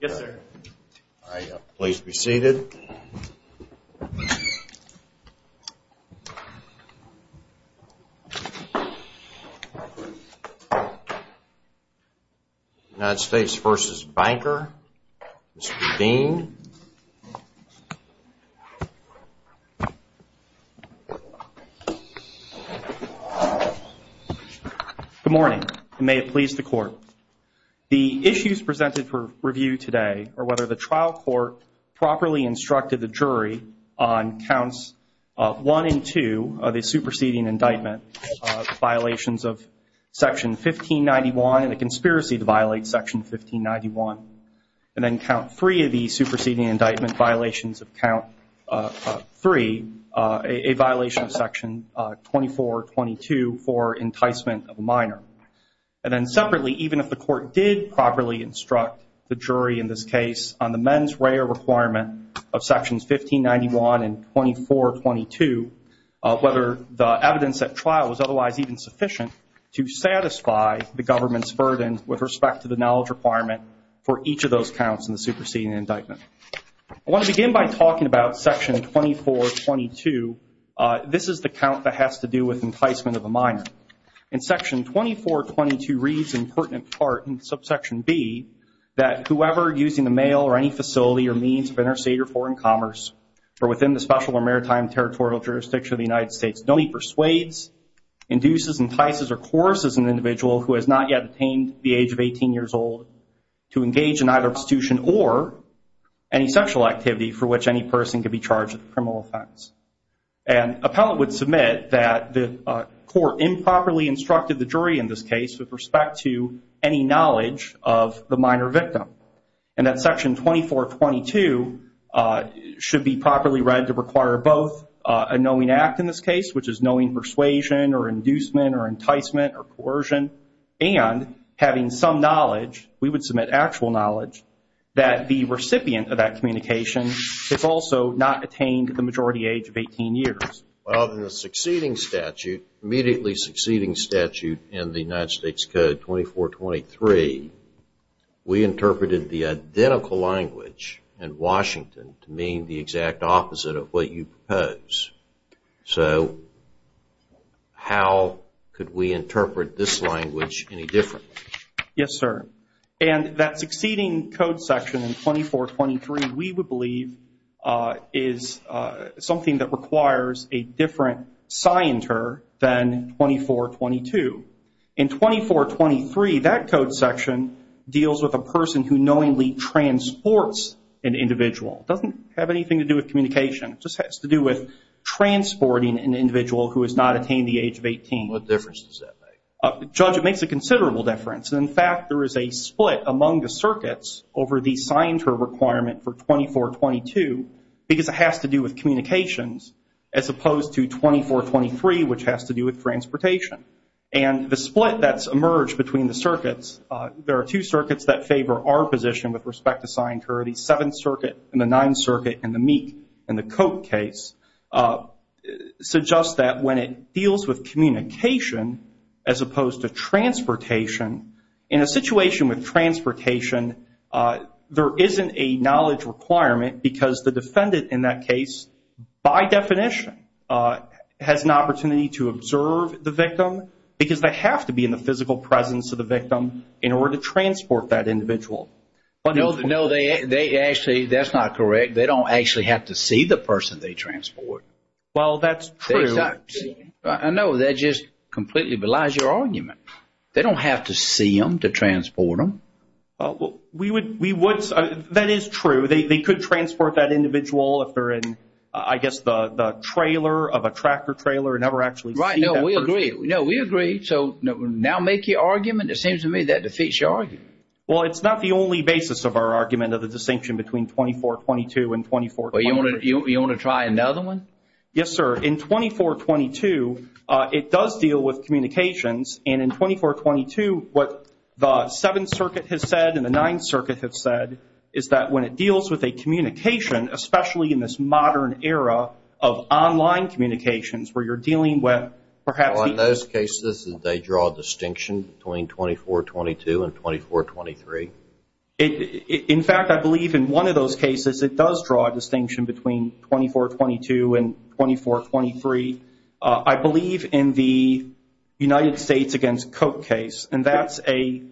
United States v. Banker, Mr. Dean Good morning, and may it please the Court. The issues presented for review today are whether the trial court properly instructed the jury on counts 1 and 2 of a superseding indictment, violations of section 1591 and a conspiracy to violate section 1591, and then count 3 of the superseding indictment violations of count 3, a violation of section 2422 for enticement of a minor. And then separately, even if the court did properly instruct the jury in this case on the men's rare requirement of sections 1591 and 2422, whether the evidence at trial was otherwise even sufficient to satisfy the government's burden with respect to the knowledge requirement for each of those counts in the superseding indictment. I want to begin by talking about section 2422. This is the count that has to do with enticement of a minor. In section 2422 reads in pertinent part in subsection B that whoever using the mail or any facility or means of interstate or foreign commerce or within the special or maritime territorial jurisdiction of the United States, no need persuades, induces, entices, or coerces an individual who has not yet attained the age of 18 years old to engage in either prostitution or any sexual activity for which any person could be charged with a criminal offense. And appellate would submit that the court improperly instructed the jury in this case with respect to any knowledge of the minor victim. And that section 2422 should be properly read to require both a knowing act in this case, which is knowing persuasion or inducement or enticement or coercion, and having some knowledge, we would submit actual knowledge, that the recipient of that communication has also not attained the majority age of 18 years. Well, in the succeeding statute, immediately succeeding statute in the United States Code 2423, we interpreted the identical language in Washington to mean the exact opposite of what you propose. So how could we interpret this language any differently? Yes, sir. And that succeeding code section in 2423, we would believe, is something that requires a different scienter than 2422. In 2423, that code section deals with a person who knowingly transports an individual. It doesn't have anything to do with communication. It just has to do with transporting an individual who has not attained the age of 18. What difference does that make? Judge, it makes a considerable difference. In fact, there is a split among the circuits over the scienter requirement for 2422, because it has to do with communications, as opposed to 2423, which has to do with transportation. And the split that's emerged between the circuits, there are two circuits that favor our position with respect to scienter, the Seventh Circuit and the Ninth Circuit and the Meek and the In a situation with transportation, there isn't a knowledge requirement, because the defendant in that case, by definition, has an opportunity to observe the victim, because they have to be in the physical presence of the victim in order to transport that individual. No, they actually, that's not correct. They don't actually have to see the person they transport. Well, that's true. I know, that just completely belies your argument. They don't have to see them to transport them. Well, we would, that is true. They could transport that individual if they're in, I guess, the trailer of a tractor trailer, never actually see that person. Right, no, we agree. No, we agree. So now make your argument. It seems to me that defeats your argument. Well, it's not the only basis of our argument of the distinction between 2422 and 2423. Well, you want to try another one? Yes, sir. In 2422, it does deal with communications, and in 2422, what the Seventh Circuit has said and the Ninth Circuit has said is that when it deals with a communication, especially in this modern era of online communications, where you're dealing with perhaps the- Well, in those cases, they draw a distinction between 2422 and 2423. In fact, I believe in one of those cases, it does draw a distinction between 2422 and 2423. I believe in the United States against Koch case, and that's a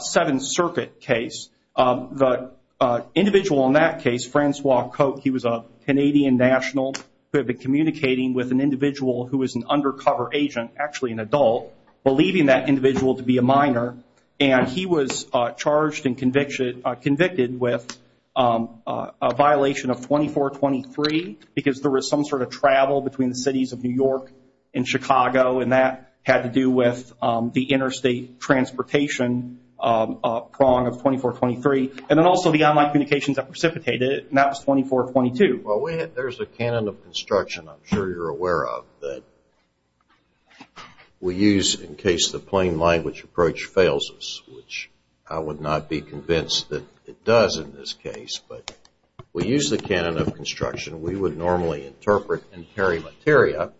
Seventh Circuit case. The individual in that case, Francois Koch, he was a Canadian national who had been communicating with an individual who was an undercover agent, actually an adult, believing that individual to be a minor, and he was charged and convicted with a violation of 2423 because there was some sort of travel between the cities of New York and Chicago, and that had to do with the interstate transportation prong of 2423, and then also the online communications that precipitated it, and that was 2422. Well, there's a canon of construction I'm sure you're aware of that we use in case the plain language approach fails us, which I would not be convinced that it does in this case, but we use the canon of construction. We would normally interpret in peri materia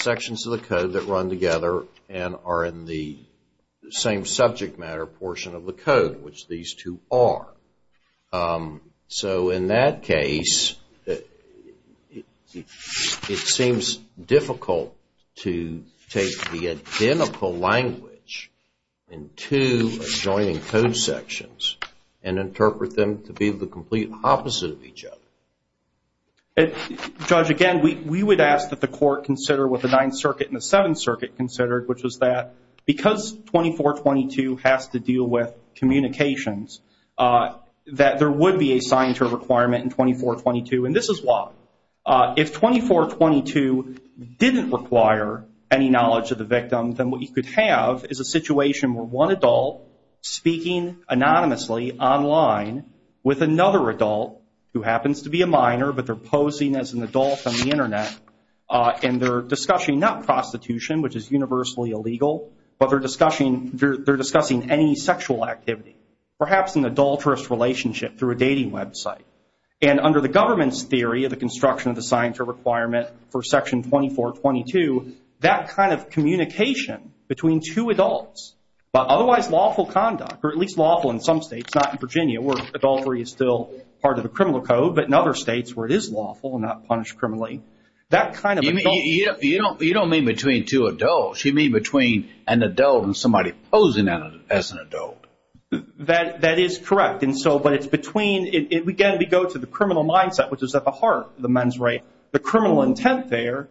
sections of the code that run together and are in the same subject matter portion of the code, which these two are. So, in that case, it seems difficult to take the identical language in two adjoining code sections and interpret them to be the complete opposite of each other. Judge, again, we would ask that the court consider what the Ninth Circuit and the Seventh that there would be a signature requirement in 2422, and this is why. If 2422 didn't require any knowledge of the victim, then what you could have is a situation where one adult speaking anonymously online with another adult who happens to be a minor, but they're posing as an adult on the Internet, and they're discussing not prostitution, which is universally illegal, but they're discussing any sexual activity, perhaps an adulterous relationship through a dating website. And under the government's theory of the construction of the signature requirement for Section 2422, that kind of communication between two adults about otherwise lawful conduct, or at least lawful in some states, not in Virginia, where adultery is still part of the criminal code, but in other states where it is lawful and not punished criminally, that kind of adult You don't mean between two adults. You mean between an adult and somebody posing as an adult. That is correct. And so, but it's between, again, we go to the criminal mindset, which is at the heart of the men's right. The criminal intent there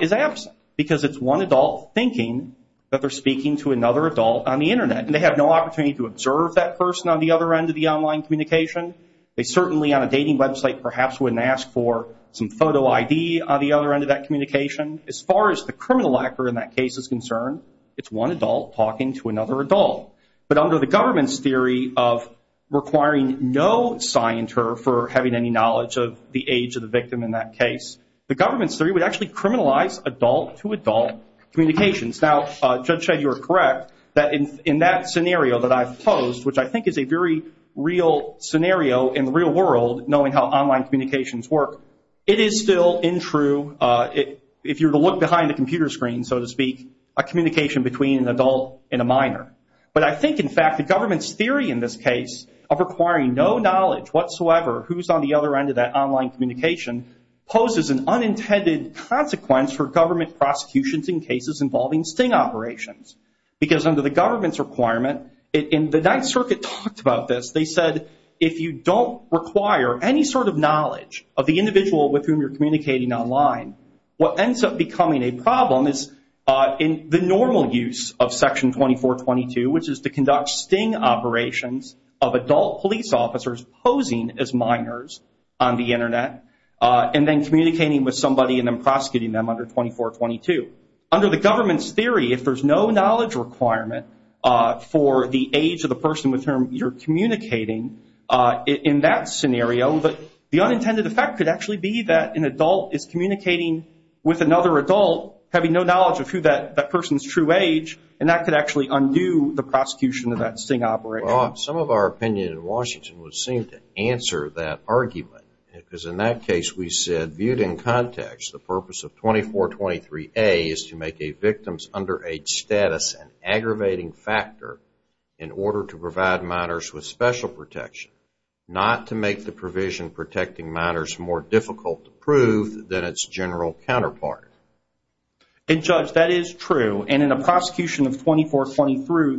is absent, because it's one adult thinking that they're speaking to another adult on the Internet, and they have no opportunity to observe that person on the other end of the online communication. They certainly on a dating website perhaps wouldn't ask for some photo ID on the other end of that communication. As far as the criminal actor in that case is concerned, it's one adult talking to another adult. But under the government's theory of requiring no signature for having any knowledge of the age of the victim in that case, the government's theory would actually criminalize adult-to-adult communications. Now, Judge Shedd, you are correct that in that scenario that I've posed, which I think is a very real scenario in the real world, knowing how online communications work, it is still untrue if you were to look behind a computer screen, so to speak, a communication between an adult and a minor. But I think, in fact, the government's theory in this case of requiring no knowledge whatsoever who's on the other end of that online communication poses an unintended consequence for government prosecutions in cases involving sting operations. Because under the government's requirement, and the Ninth Circuit talked about this, they said, if you don't require any sort of knowledge of the individual with whom you're communicating online, what ends up becoming a problem is in the normal use of Section 2422, which is to conduct sting operations of adult police officers posing as minors on the internet, and then communicating with somebody and then prosecuting them under 2422. Under the government's theory, if there's no knowledge requirement for the age of the person with whom you're communicating in that scenario, the unintended effect could actually be that an adult is communicating with another adult, having no knowledge of who that person's true age, and that could actually undo the prosecution of that sting operation. Some of our opinion in Washington would seem to answer that argument, because in that case we said, viewed in context, the purpose of 2423A is to make a victim's underage status an aggravating factor in order to provide minors with special protection, not to make the provision protecting minors more difficult to prove than its general counterpart. And Judge, that is true, and in a prosecution of 2423,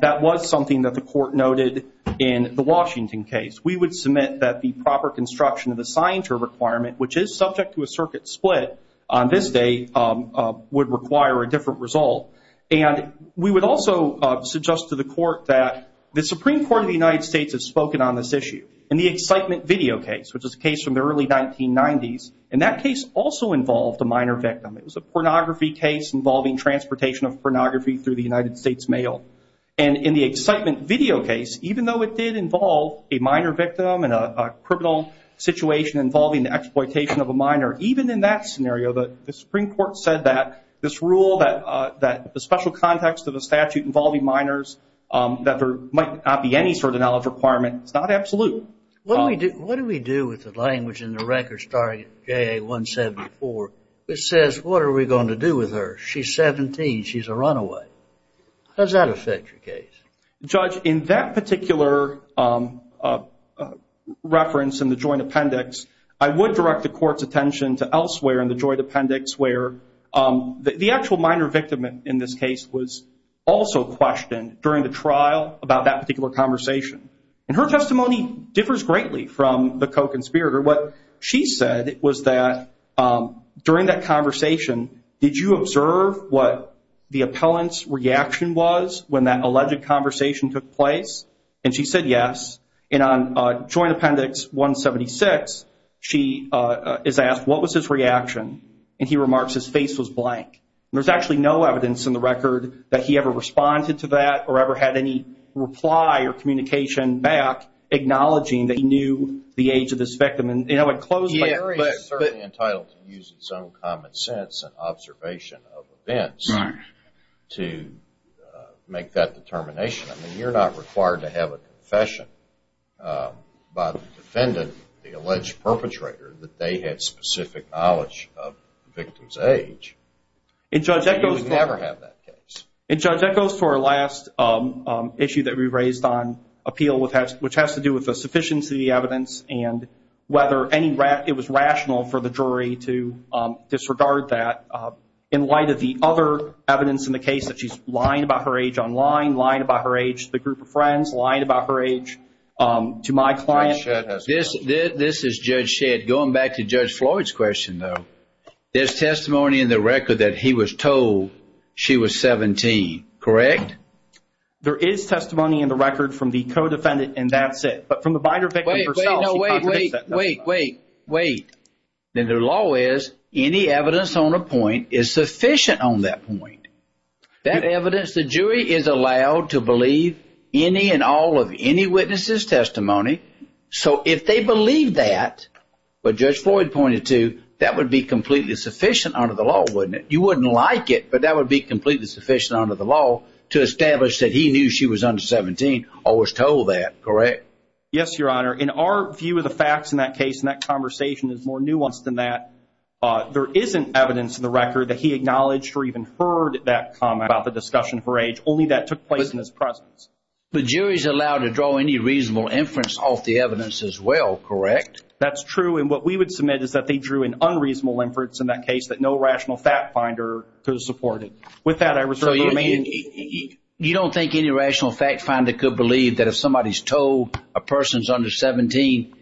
that was something that the Court noted in the Washington case. We would submit that the proper construction of the signature requirement, which is subject to a circuit split on this day, would require a different result. And we would also suggest to the Court that the Supreme Court of the United States has a different view on this issue. In the Excitement Video case, which is a case from the early 1990s, and that case also involved a minor victim. It was a pornography case involving transportation of pornography through the United States mail. And in the Excitement Video case, even though it did involve a minor victim and a criminal situation involving the exploitation of a minor, even in that scenario the Supreme Court said that this rule, that the special context of the statute involving minors, that there might not be any sort of knowledge requirement. It's not absolute. What do we do with the language in the records starting at JA-174 that says, what are we going to do with her? She's 17. She's a runaway. How does that affect your case? Judge, in that particular reference in the Joint Appendix, I would direct the Court's attention to elsewhere in the Joint Appendix where the actual minor victim in this case was also questioned during the trial about that particular conversation. And her testimony differs greatly from the co-conspirator. What she said was that during that conversation, did you observe what the appellant's reaction was when that alleged conversation took place? And she said yes. And on Joint Appendix 176, she is asked, what was his reaction? And he remarks, his face was blank. There's actually no evidence in the record that he ever responded to that or ever had any reply or communication back acknowledging that he knew the age of this victim. And I would close by saying... Yeah, but he's certainly entitled to use his own common sense and observation of events to make that determination. I mean, you're not required to have a confession by the defendant, the alleged perpetrator, that they had specific knowledge of the victim's age. And you would never have that case. And Judge, that goes to our last issue that we raised on appeal, which has to do with the sufficiency of the evidence and whether it was rational for the jury to disregard that in light of the other evidence in the case that she's lying about her age online, lying about her age to the group of friends, lying about her age to my client. Judge Shedd has a question. This is Judge Shedd. Going back to Judge Floyd's question, though, there's testimony in the record that he was told she was 17, correct? There is testimony in the record from the co-defendant, and that's it. But from the binder victim herself, she contradicts that. Wait, wait, wait, wait, wait, wait. Then the law is any evidence on a point is sufficient on that point. That evidence, the jury is allowed to believe any and all of any witnesses' testimony. So if they believe that, what Judge Floyd pointed to, that would be completely sufficient under the law, wouldn't it? You wouldn't like it, but that would be completely sufficient under the law to establish that he knew she was under 17 or was told that, correct? Yes, Your Honor. In our view of the facts in that case, and that conversation is more nuanced than that, there isn't evidence in the record that he acknowledged or even heard that comment about the discussion for age. Only that took place in his presence. The jury's allowed to draw any reasonable inference off the evidence as well, correct? That's true. And what we would submit is that they drew an unreasonable inference in that case that no rational fact finder could have supported. With that, I reserve the remaining... You don't think any rational fact finder could believe that if somebody's told a person's under 17,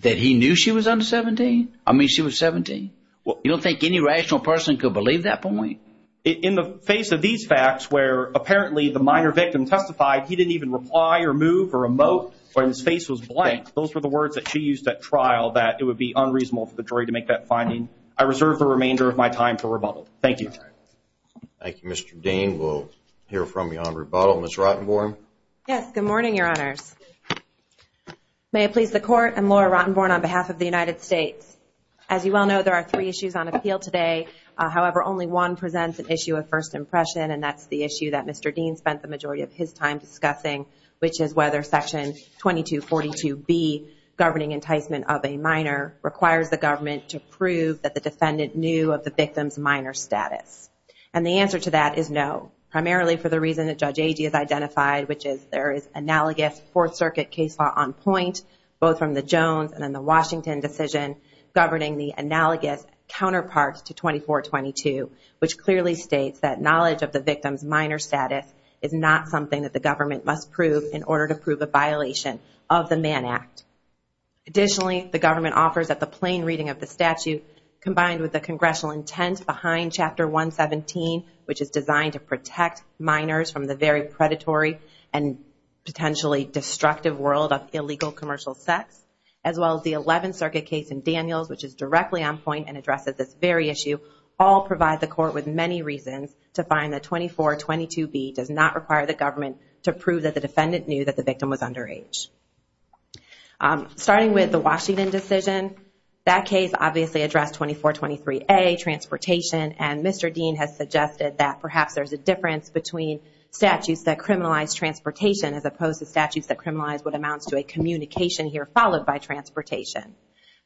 that he knew she was under 17? I mean, she was 17? You don't think any rational person could believe that point? In the face of these facts, where apparently the minor victim testified, he didn't even reply or move or emote, or his face was blank, those were the words that she used at trial that it would be unreasonable for the jury to make that finding. I reserve the remainder of my time for rebuttal. Thank you. Thank you, Mr. Dane. We'll hear from you on rebuttal. Ms. Rottenborn? Yes, good morning, Your Honors. May it please the Court, I'm Laura Rottenborn on behalf of the United States. As you well know, there are three issues on appeal today. However, only one presents an issue of first impression, and that's the issue that Mr. Dane spent the majority of his time discussing, which is whether Section 2242B, Governing Enticement of a Minor, requires the government to prove that the defendant knew of the victim's minor status. And the answer to that is no, primarily for the reason that Judge Agee has identified, which is there is analogous Fourth Circuit case law on point, both from the Jones and then the Washington decision, governing the analogous counterpart to 2422, which clearly states that knowledge of the victim's minor status is not something that the government must prove in order to prove a violation of the Mann Act. Additionally, the government offers that the plain reading of the statute, combined with the congressional intent behind Chapter 117, which is designed to protect minors from the very predatory and potentially destructive world of illegal commercial sex, as well as the Eleventh Circuit case in Daniels, which is directly on point and addresses this very issue, all provide the Court with many reasons to find that 2422B does not require the government to prove that the defendant knew that the victim was underage. Starting with the Washington decision, that case obviously addressed 2423A, transportation, and Mr. Dean has suggested that perhaps there's a difference between statutes that criminalize transportation as opposed to statutes that criminalize what amounts to a communication here followed by transportation.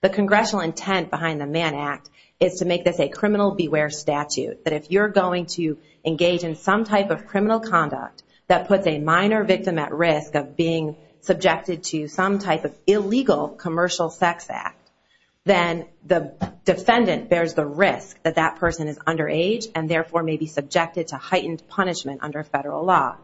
The congressional intent behind the Mann Act is to make this a criminal beware statute, that if you're going to engage in some type of criminal conduct that puts a minor victim at risk of being subjected to some type of illegal commercial sex act, then the defendant bears the risk that that person is underage and therefore may be subjected to heightened punishment under federal law.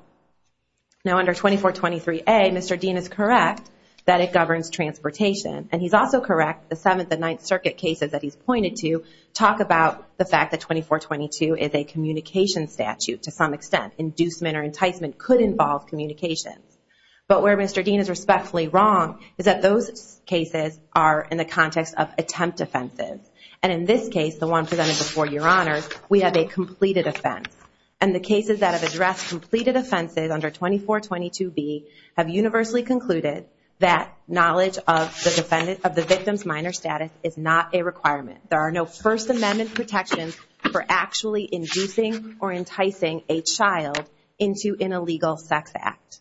Now under 2423A, Mr. Dean is correct that it governs transportation, and he's also correct the Seventh and Ninth Circuit cases that he's pointed to talk about the fact that 2422 is a communication statute to some extent, inducement or enticement could involve communications. But where Mr. Dean is respectfully wrong is that those cases are in the context of attempt offenses, and in this case, the one presented before your honors, we have a completed offense. And the cases that have addressed completed offenses under 2422B have universally concluded that knowledge of the victim's minor status is not a requirement. There are no First Amendment protections for actually inducing or enticing a child into an illegal sex act.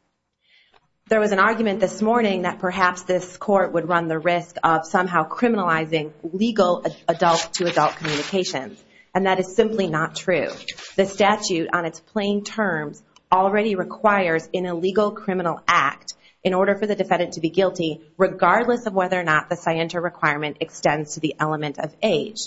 There was an argument this morning that perhaps this court would run the risk of somehow criminalizing legal adult-to-adult communications, and that is simply not true. The statute on its plain terms already requires an illegal criminal act in order for the defendant to be guilty regardless of whether or not the scienter requirement extends to the element of age.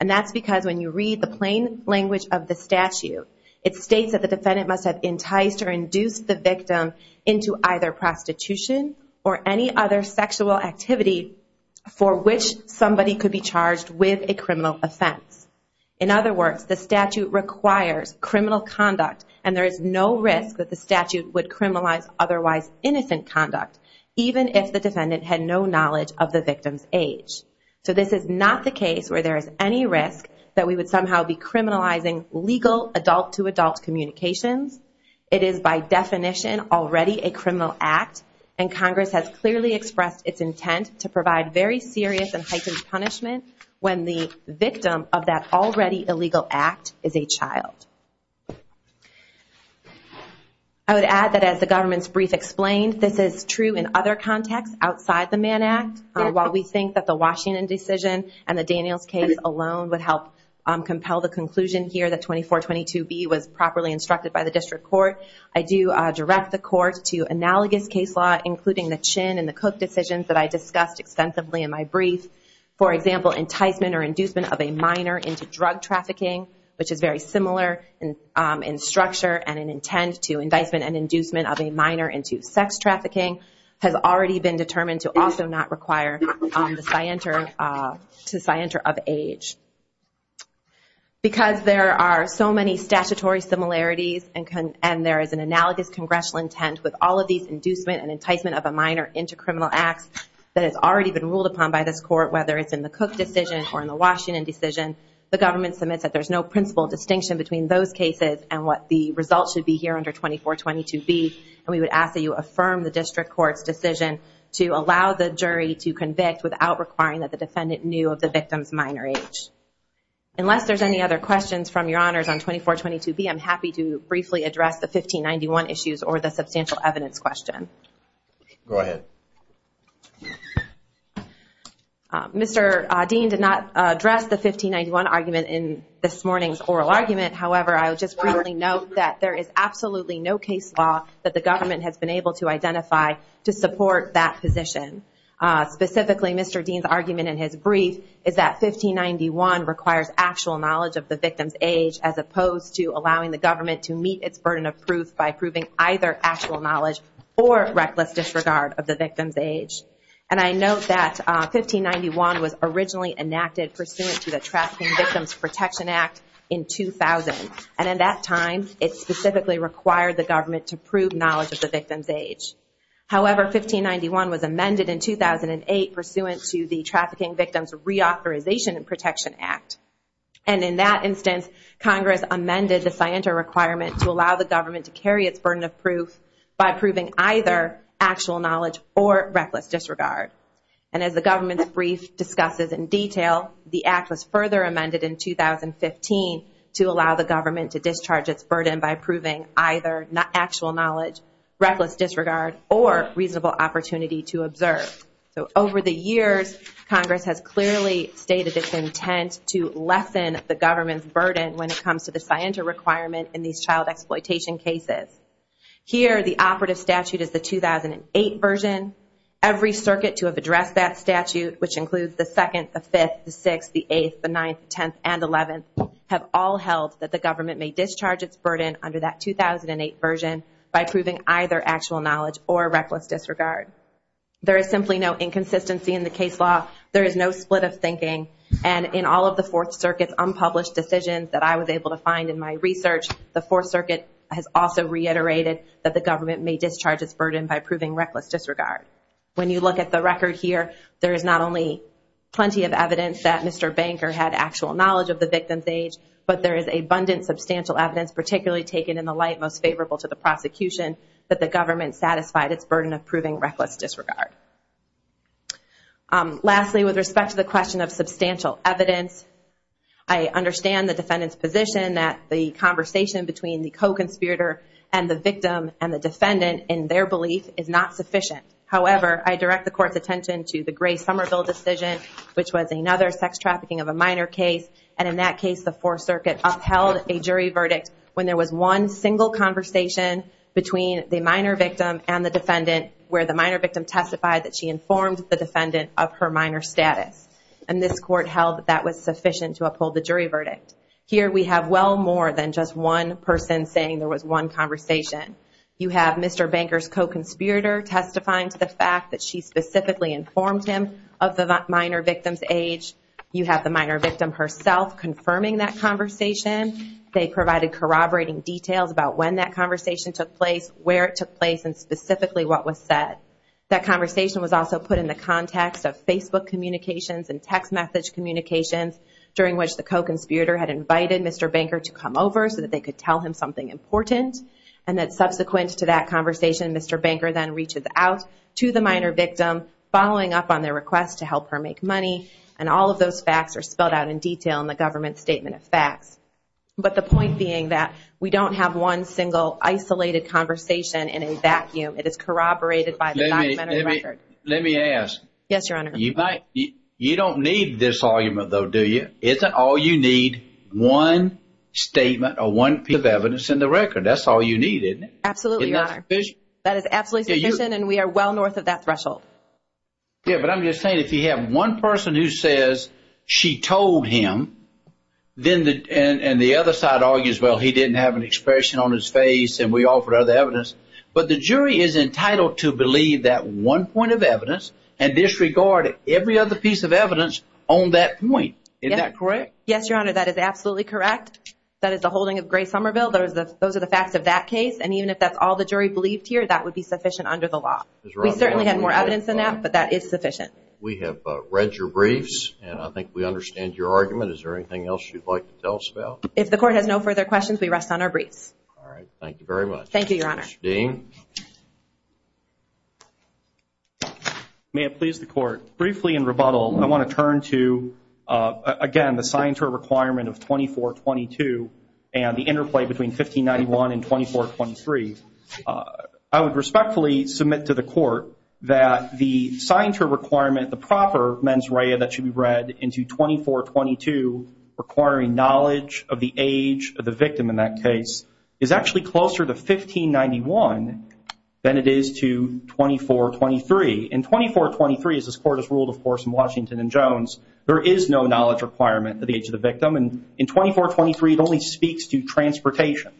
And that's because when you read the plain language of the statute, it states that the defendant must have enticed or induced the victim into either prostitution or any other sexual activity for which somebody could be charged with a criminal offense. In other words, the statute requires criminal conduct, and there is no risk that the statute would criminalize otherwise innocent conduct, even if the defendant had no knowledge of the victim's age. So this is not the case where there is any risk that we would somehow be criminalizing legal adult-to-adult communications. It is by definition already a criminal act, and Congress has clearly expressed its intent to provide very serious and heightened punishment when the victim of that already illegal act is a child. I would add that as the government's brief explained, this is true in other contexts outside the Mann Act. While we think that the Washington decision and the Daniels case alone would help compel the conclusion here that 2422B was properly instructed by the district court, I do direct the court to analogous case law, including the Chin and the Cook decisions that I discussed extensively in my brief. For example, enticement or inducement of a minor into drug trafficking, which is very similar in structure and in intent to enticement and inducement of a minor into sex trafficking, has already been determined to also not require the scienter of age. Because there are so many statutory similarities and there is an analogous congressional intent with all of these inducement and enticement of a minor into criminal acts that has already been ruled upon by this court, whether it's in the Cook decision or in the Washington decision, the government submits that there's no principal distinction between those cases and what the results should be here under 2422B, and we would ask that you affirm the district court's decision to allow the jury to convict without requiring that the defendant knew of the victim's minor age. Unless there's any other questions from your honors on 2422B, I'm happy to briefly address the 1591 issues or the substantial evidence question. Go ahead. Mr. Dean did not address the 1591 argument in this morning's oral argument, however, I would just briefly note that there is absolutely no case law that the government has been able to identify to support that position. Specifically, Mr. Dean's argument in his brief is that 1591 requires actual knowledge of the victim's age as opposed to allowing the government to meet its burden of proof by proving either actual knowledge or reckless disregard of the victim's age. And I note that 1591 was originally enacted pursuant to the Trafficking Victims Protection Act in 2000, and in that time, it specifically required the government to prove knowledge of the victim's age. However, 1591 was amended in 2008 pursuant to the Trafficking Victims Reauthorization and Protection Act. And in that instance, Congress amended the scienter requirement to allow the government to carry its burden of proof by proving either actual knowledge or reckless disregard. And as the government's brief discusses in detail, the act was further amended in 2015 to allow the government to discharge its burden by proving either actual knowledge, reckless disregard, or reasonable opportunity to observe. So over the years, Congress has clearly stated its intent to lessen the government's burden when it comes to the scienter requirement in these child exploitation cases. Here, the operative statute is the 2008 version. Every circuit to have addressed that statute, which includes the 2nd, the 5th, the 6th, the 8th, the 9th, the 10th, and the 11th, have all held that the government may discharge its burden under that 2008 version by proving either actual knowledge or reckless disregard. There is simply no inconsistency in the case law. There is no split of thinking. And in all of the Fourth Circuit's unpublished decisions that I was able to find in my research, the Fourth Circuit has also reiterated that the government may discharge its burden by proving reckless disregard. When you look at the record here, there is not only plenty of evidence that Mr. Banker had actual knowledge of the victim's age, but there is abundant substantial evidence, particularly taken in the light most favorable to the prosecution, that the government satisfied its burden of proving reckless disregard. Lastly, with respect to the question of substantial evidence, I understand the defendant's position that the conversation between the co-conspirator and the victim and the defendant in their belief is not sufficient. However, I direct the Court's attention to the Gray-Somerville decision, which was another sex trafficking of a minor case. And in that case, the Fourth Circuit upheld a jury verdict when there was one single conversation between the minor victim and the defendant, where the minor victim testified that she informed the defendant of her minor status. And this Court held that that was sufficient to uphold the jury verdict. Here we have well more than just one person saying there was one conversation. You have Mr. Banker's co-conspirator testifying to the fact that she specifically informed him of the minor victim's age. You have the minor victim herself confirming that conversation. They provided corroborating details about when that conversation took place, where it took place, and specifically what was said. That conversation was also put in the context of Facebook communications and text message communications, during which the co-conspirator had invited Mr. Banker to come over so that they could tell him something important. And that subsequent to that conversation, Mr. Banker then reached out to the minor victim, following up on their request to help her make money. And all of those facts are spelled out in detail in the government statement of facts. But the point being that we don't have one single isolated conversation in a vacuum. It is corroborated by the documentary record. Let me ask. Yes, Your Honor. You don't need this argument, though, do you? Isn't all you need one statement or one piece of evidence in the record? That's all you need, isn't it? Absolutely, Your Honor. Isn't that sufficient? That is absolutely sufficient. And we are well north of that threshold. Yeah, but I'm just saying, if you have one person who says she told him, and the other side argues, well, he didn't have an expression on his face and we offered other evidence. But the jury is entitled to believe that one point of evidence and disregard every other piece of evidence on that point. Isn't that correct? Yes, Your Honor. That is absolutely correct. That is the holding of Grace Somerville. Those are the facts of that case. And even if that's all the jury believed here, that would be sufficient under the law. We certainly have more evidence than that, but that is sufficient. We have read your briefs, and I think we understand your argument. Is there anything else you'd like to tell us about? If the Court has no further questions, we rest on our briefs. All right. Thank you very much. Thank you, Your Honor. Mr. Dean. May it please the Court. Briefly in rebuttal, I want to turn to, again, the signatory requirement of 2422 and the interplay between 1591 and 2423. I would respectfully submit to the Court that the signatory requirement, the proper mens rea that should be read into 2422 requiring knowledge of the age of the victim in that case is actually closer to 1591 than it is to 2423. In 2423, as this Court has ruled, of course, in Washington and Jones, there is no knowledge requirement of the age of the victim. In 2423, it only speaks to transportation,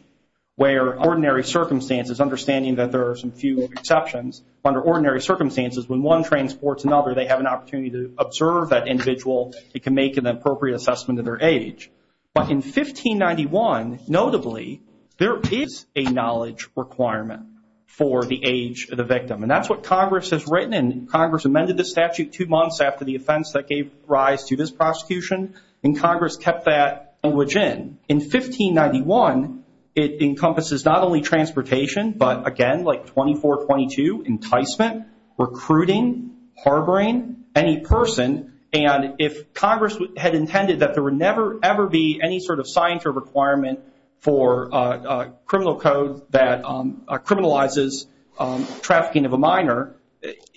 where under ordinary circumstances, understanding that there are some few exceptions, under ordinary circumstances, when one transports another, they have an opportunity to observe that individual. It can make an appropriate assessment of their age. But in 1591, notably, there is a knowledge requirement for the age of the victim. That's what Congress has written, and Congress amended the statute two months after the offense that gave rise to this prosecution, and Congress kept that language in. In 1591, it encompasses not only transportation, but again, like 2422, enticement, recruiting, harboring any person, and if Congress had intended that there would never, ever be any sort of signatory requirement for a criminal code that criminalizes trafficking of a minor,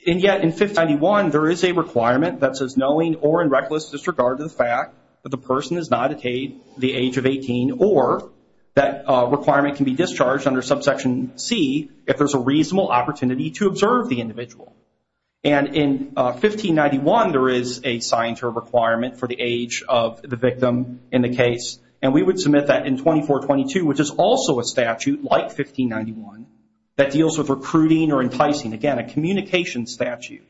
and yet in 1591, there is a requirement that says, knowing or in reckless disregard of the fact that the person has not attained the age of 18 or that requirement can be discharged under subsection C if there's a reasonable opportunity to observe the individual. And in 1591, there is a signatory requirement for the age of the victim in the case, and we would submit that in 2422, which is also a statute, like 1591, that deals with recruiting or enticing, again, a communications statute,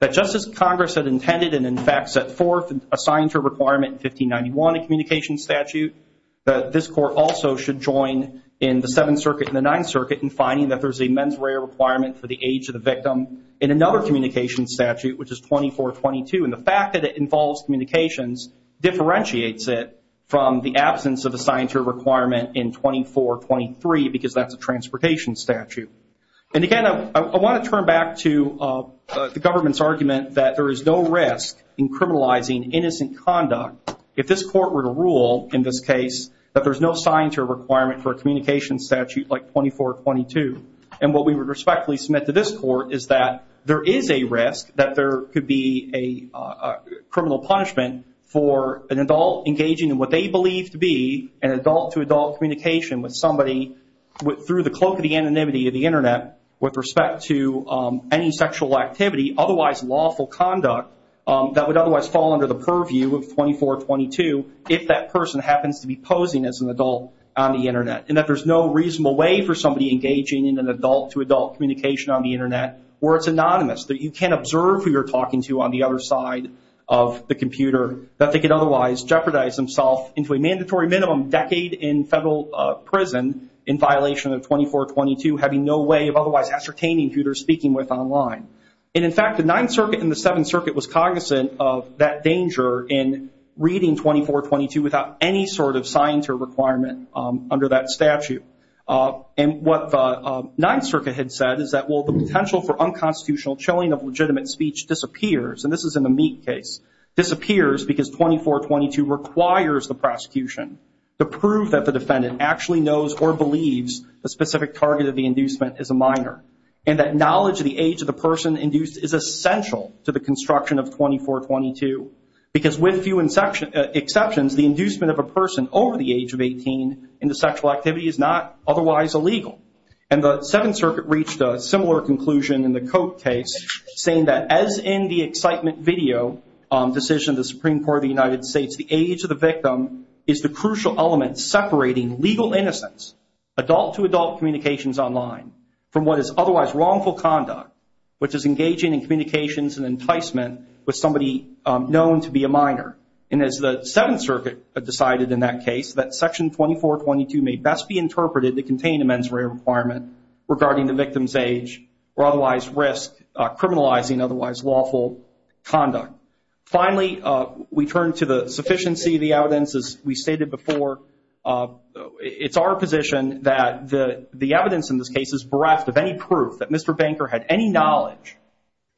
that just as Congress had intended and in fact set forth a signatory requirement in 1591, a communications statute, that this court also should join in the Seventh Circuit and the Ninth Circuit in finding that there's a mens rea requirement for the age of the victim in another communications statute, which is 2422, and the fact that it involves communications differentiates it from the absence of a signatory requirement in 2423, because that's a transportation statute. And again, I want to turn back to the government's argument that there is no risk in criminalizing innocent conduct if this court were to rule, in this case, that there's no signatory requirement for a communications statute like 2422. And what we would respectfully submit to this court is that there is a risk that there could be a criminal punishment for an adult engaging in what they believe to be an adult-to-adult communication with somebody through the cloak of the anonymity of the Internet with respect to any sexual activity, otherwise lawful conduct, that would otherwise fall under the purview of 2422 if that person happens to be posing as an adult on the Internet, and that there's no reasonable way for somebody engaging in an adult-to-adult communication on the Internet where it's anonymous, that you can't observe who you're talking to on the other side of the computer, that they could otherwise jeopardize themselves into a mandatory minimum decade in federal prison in violation of 2422, having no way of otherwise ascertaining who they're speaking with online. And in fact, the Ninth Circuit and the Seventh Circuit was cognizant of that danger in reading 2422 without any sort of signatory requirement under that statute. And what the Ninth Circuit had said is that, well, the potential for unconstitutional chilling of legitimate speech disappears, and this is in the Meek case, disappears because 2422 requires the prosecution to prove that the defendant actually knows or believes the specific target of the inducement is a minor, and that knowledge of the age of the person induced is essential to the construction of 2422, because with few exceptions, the inducement of a person over the age of 18 into sexual activity is not otherwise illegal. And the Seventh Circuit reached a similar conclusion in the Koch case, saying that, as in the excitement video decision of the Supreme Court of the United States, the age of the victim is the crucial element separating legal innocence, adult-to-adult communications online, from what is otherwise wrongful conduct, which is engaging in communications and enticement with somebody known to be a minor. And as the Seventh Circuit decided in that case, that Section 2422 may best be interpreted to contain a mens rea requirement regarding the victim's age or otherwise risk criminalizing otherwise lawful conduct. Finally, we turn to the sufficiency of the evidence, as we stated before. It's our position that the evidence in this case is bereft of any proof that Mr. Banker had any knowledge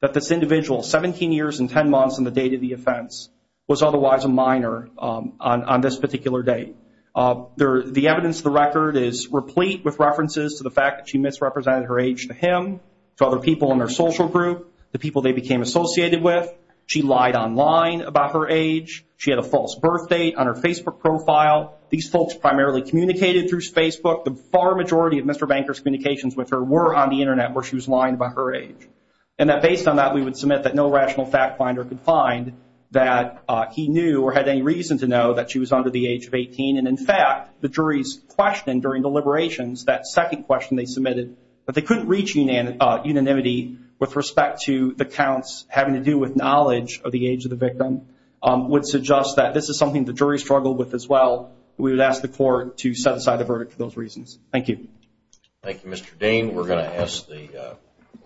that this individual, 17 years and 10 months in the date of the offense, was otherwise a minor on this particular date. The evidence of the record is replete with references to the fact that she misrepresented her age to him, to other people in her social group, the people they became associated with. She lied online about her age. She had a false birth date on her Facebook profile. These folks primarily communicated through Facebook. The far majority of Mr. Banker's communications with her were on the Internet, where she was lying about her age. And that based on that, we would submit that no rational fact finder could find that he knew or had any reason to know that she was under the age of 18. And in fact, the jury's question during deliberations, that second question they submitted that they couldn't reach unanimity with respect to the counts having to do with knowledge of the age of the victim, would suggest that this is something the jury struggled with as well. We would ask the court to set aside the verdict for those reasons. Thank you. Thank you, Mr. Dane. We're going to ask the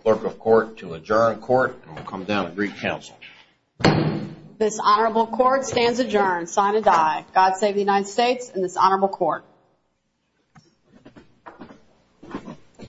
clerk of court to adjourn court and we'll come down and brief counsel. This honorable court stands adjourned, sign and die. God save the United States and this honorable court.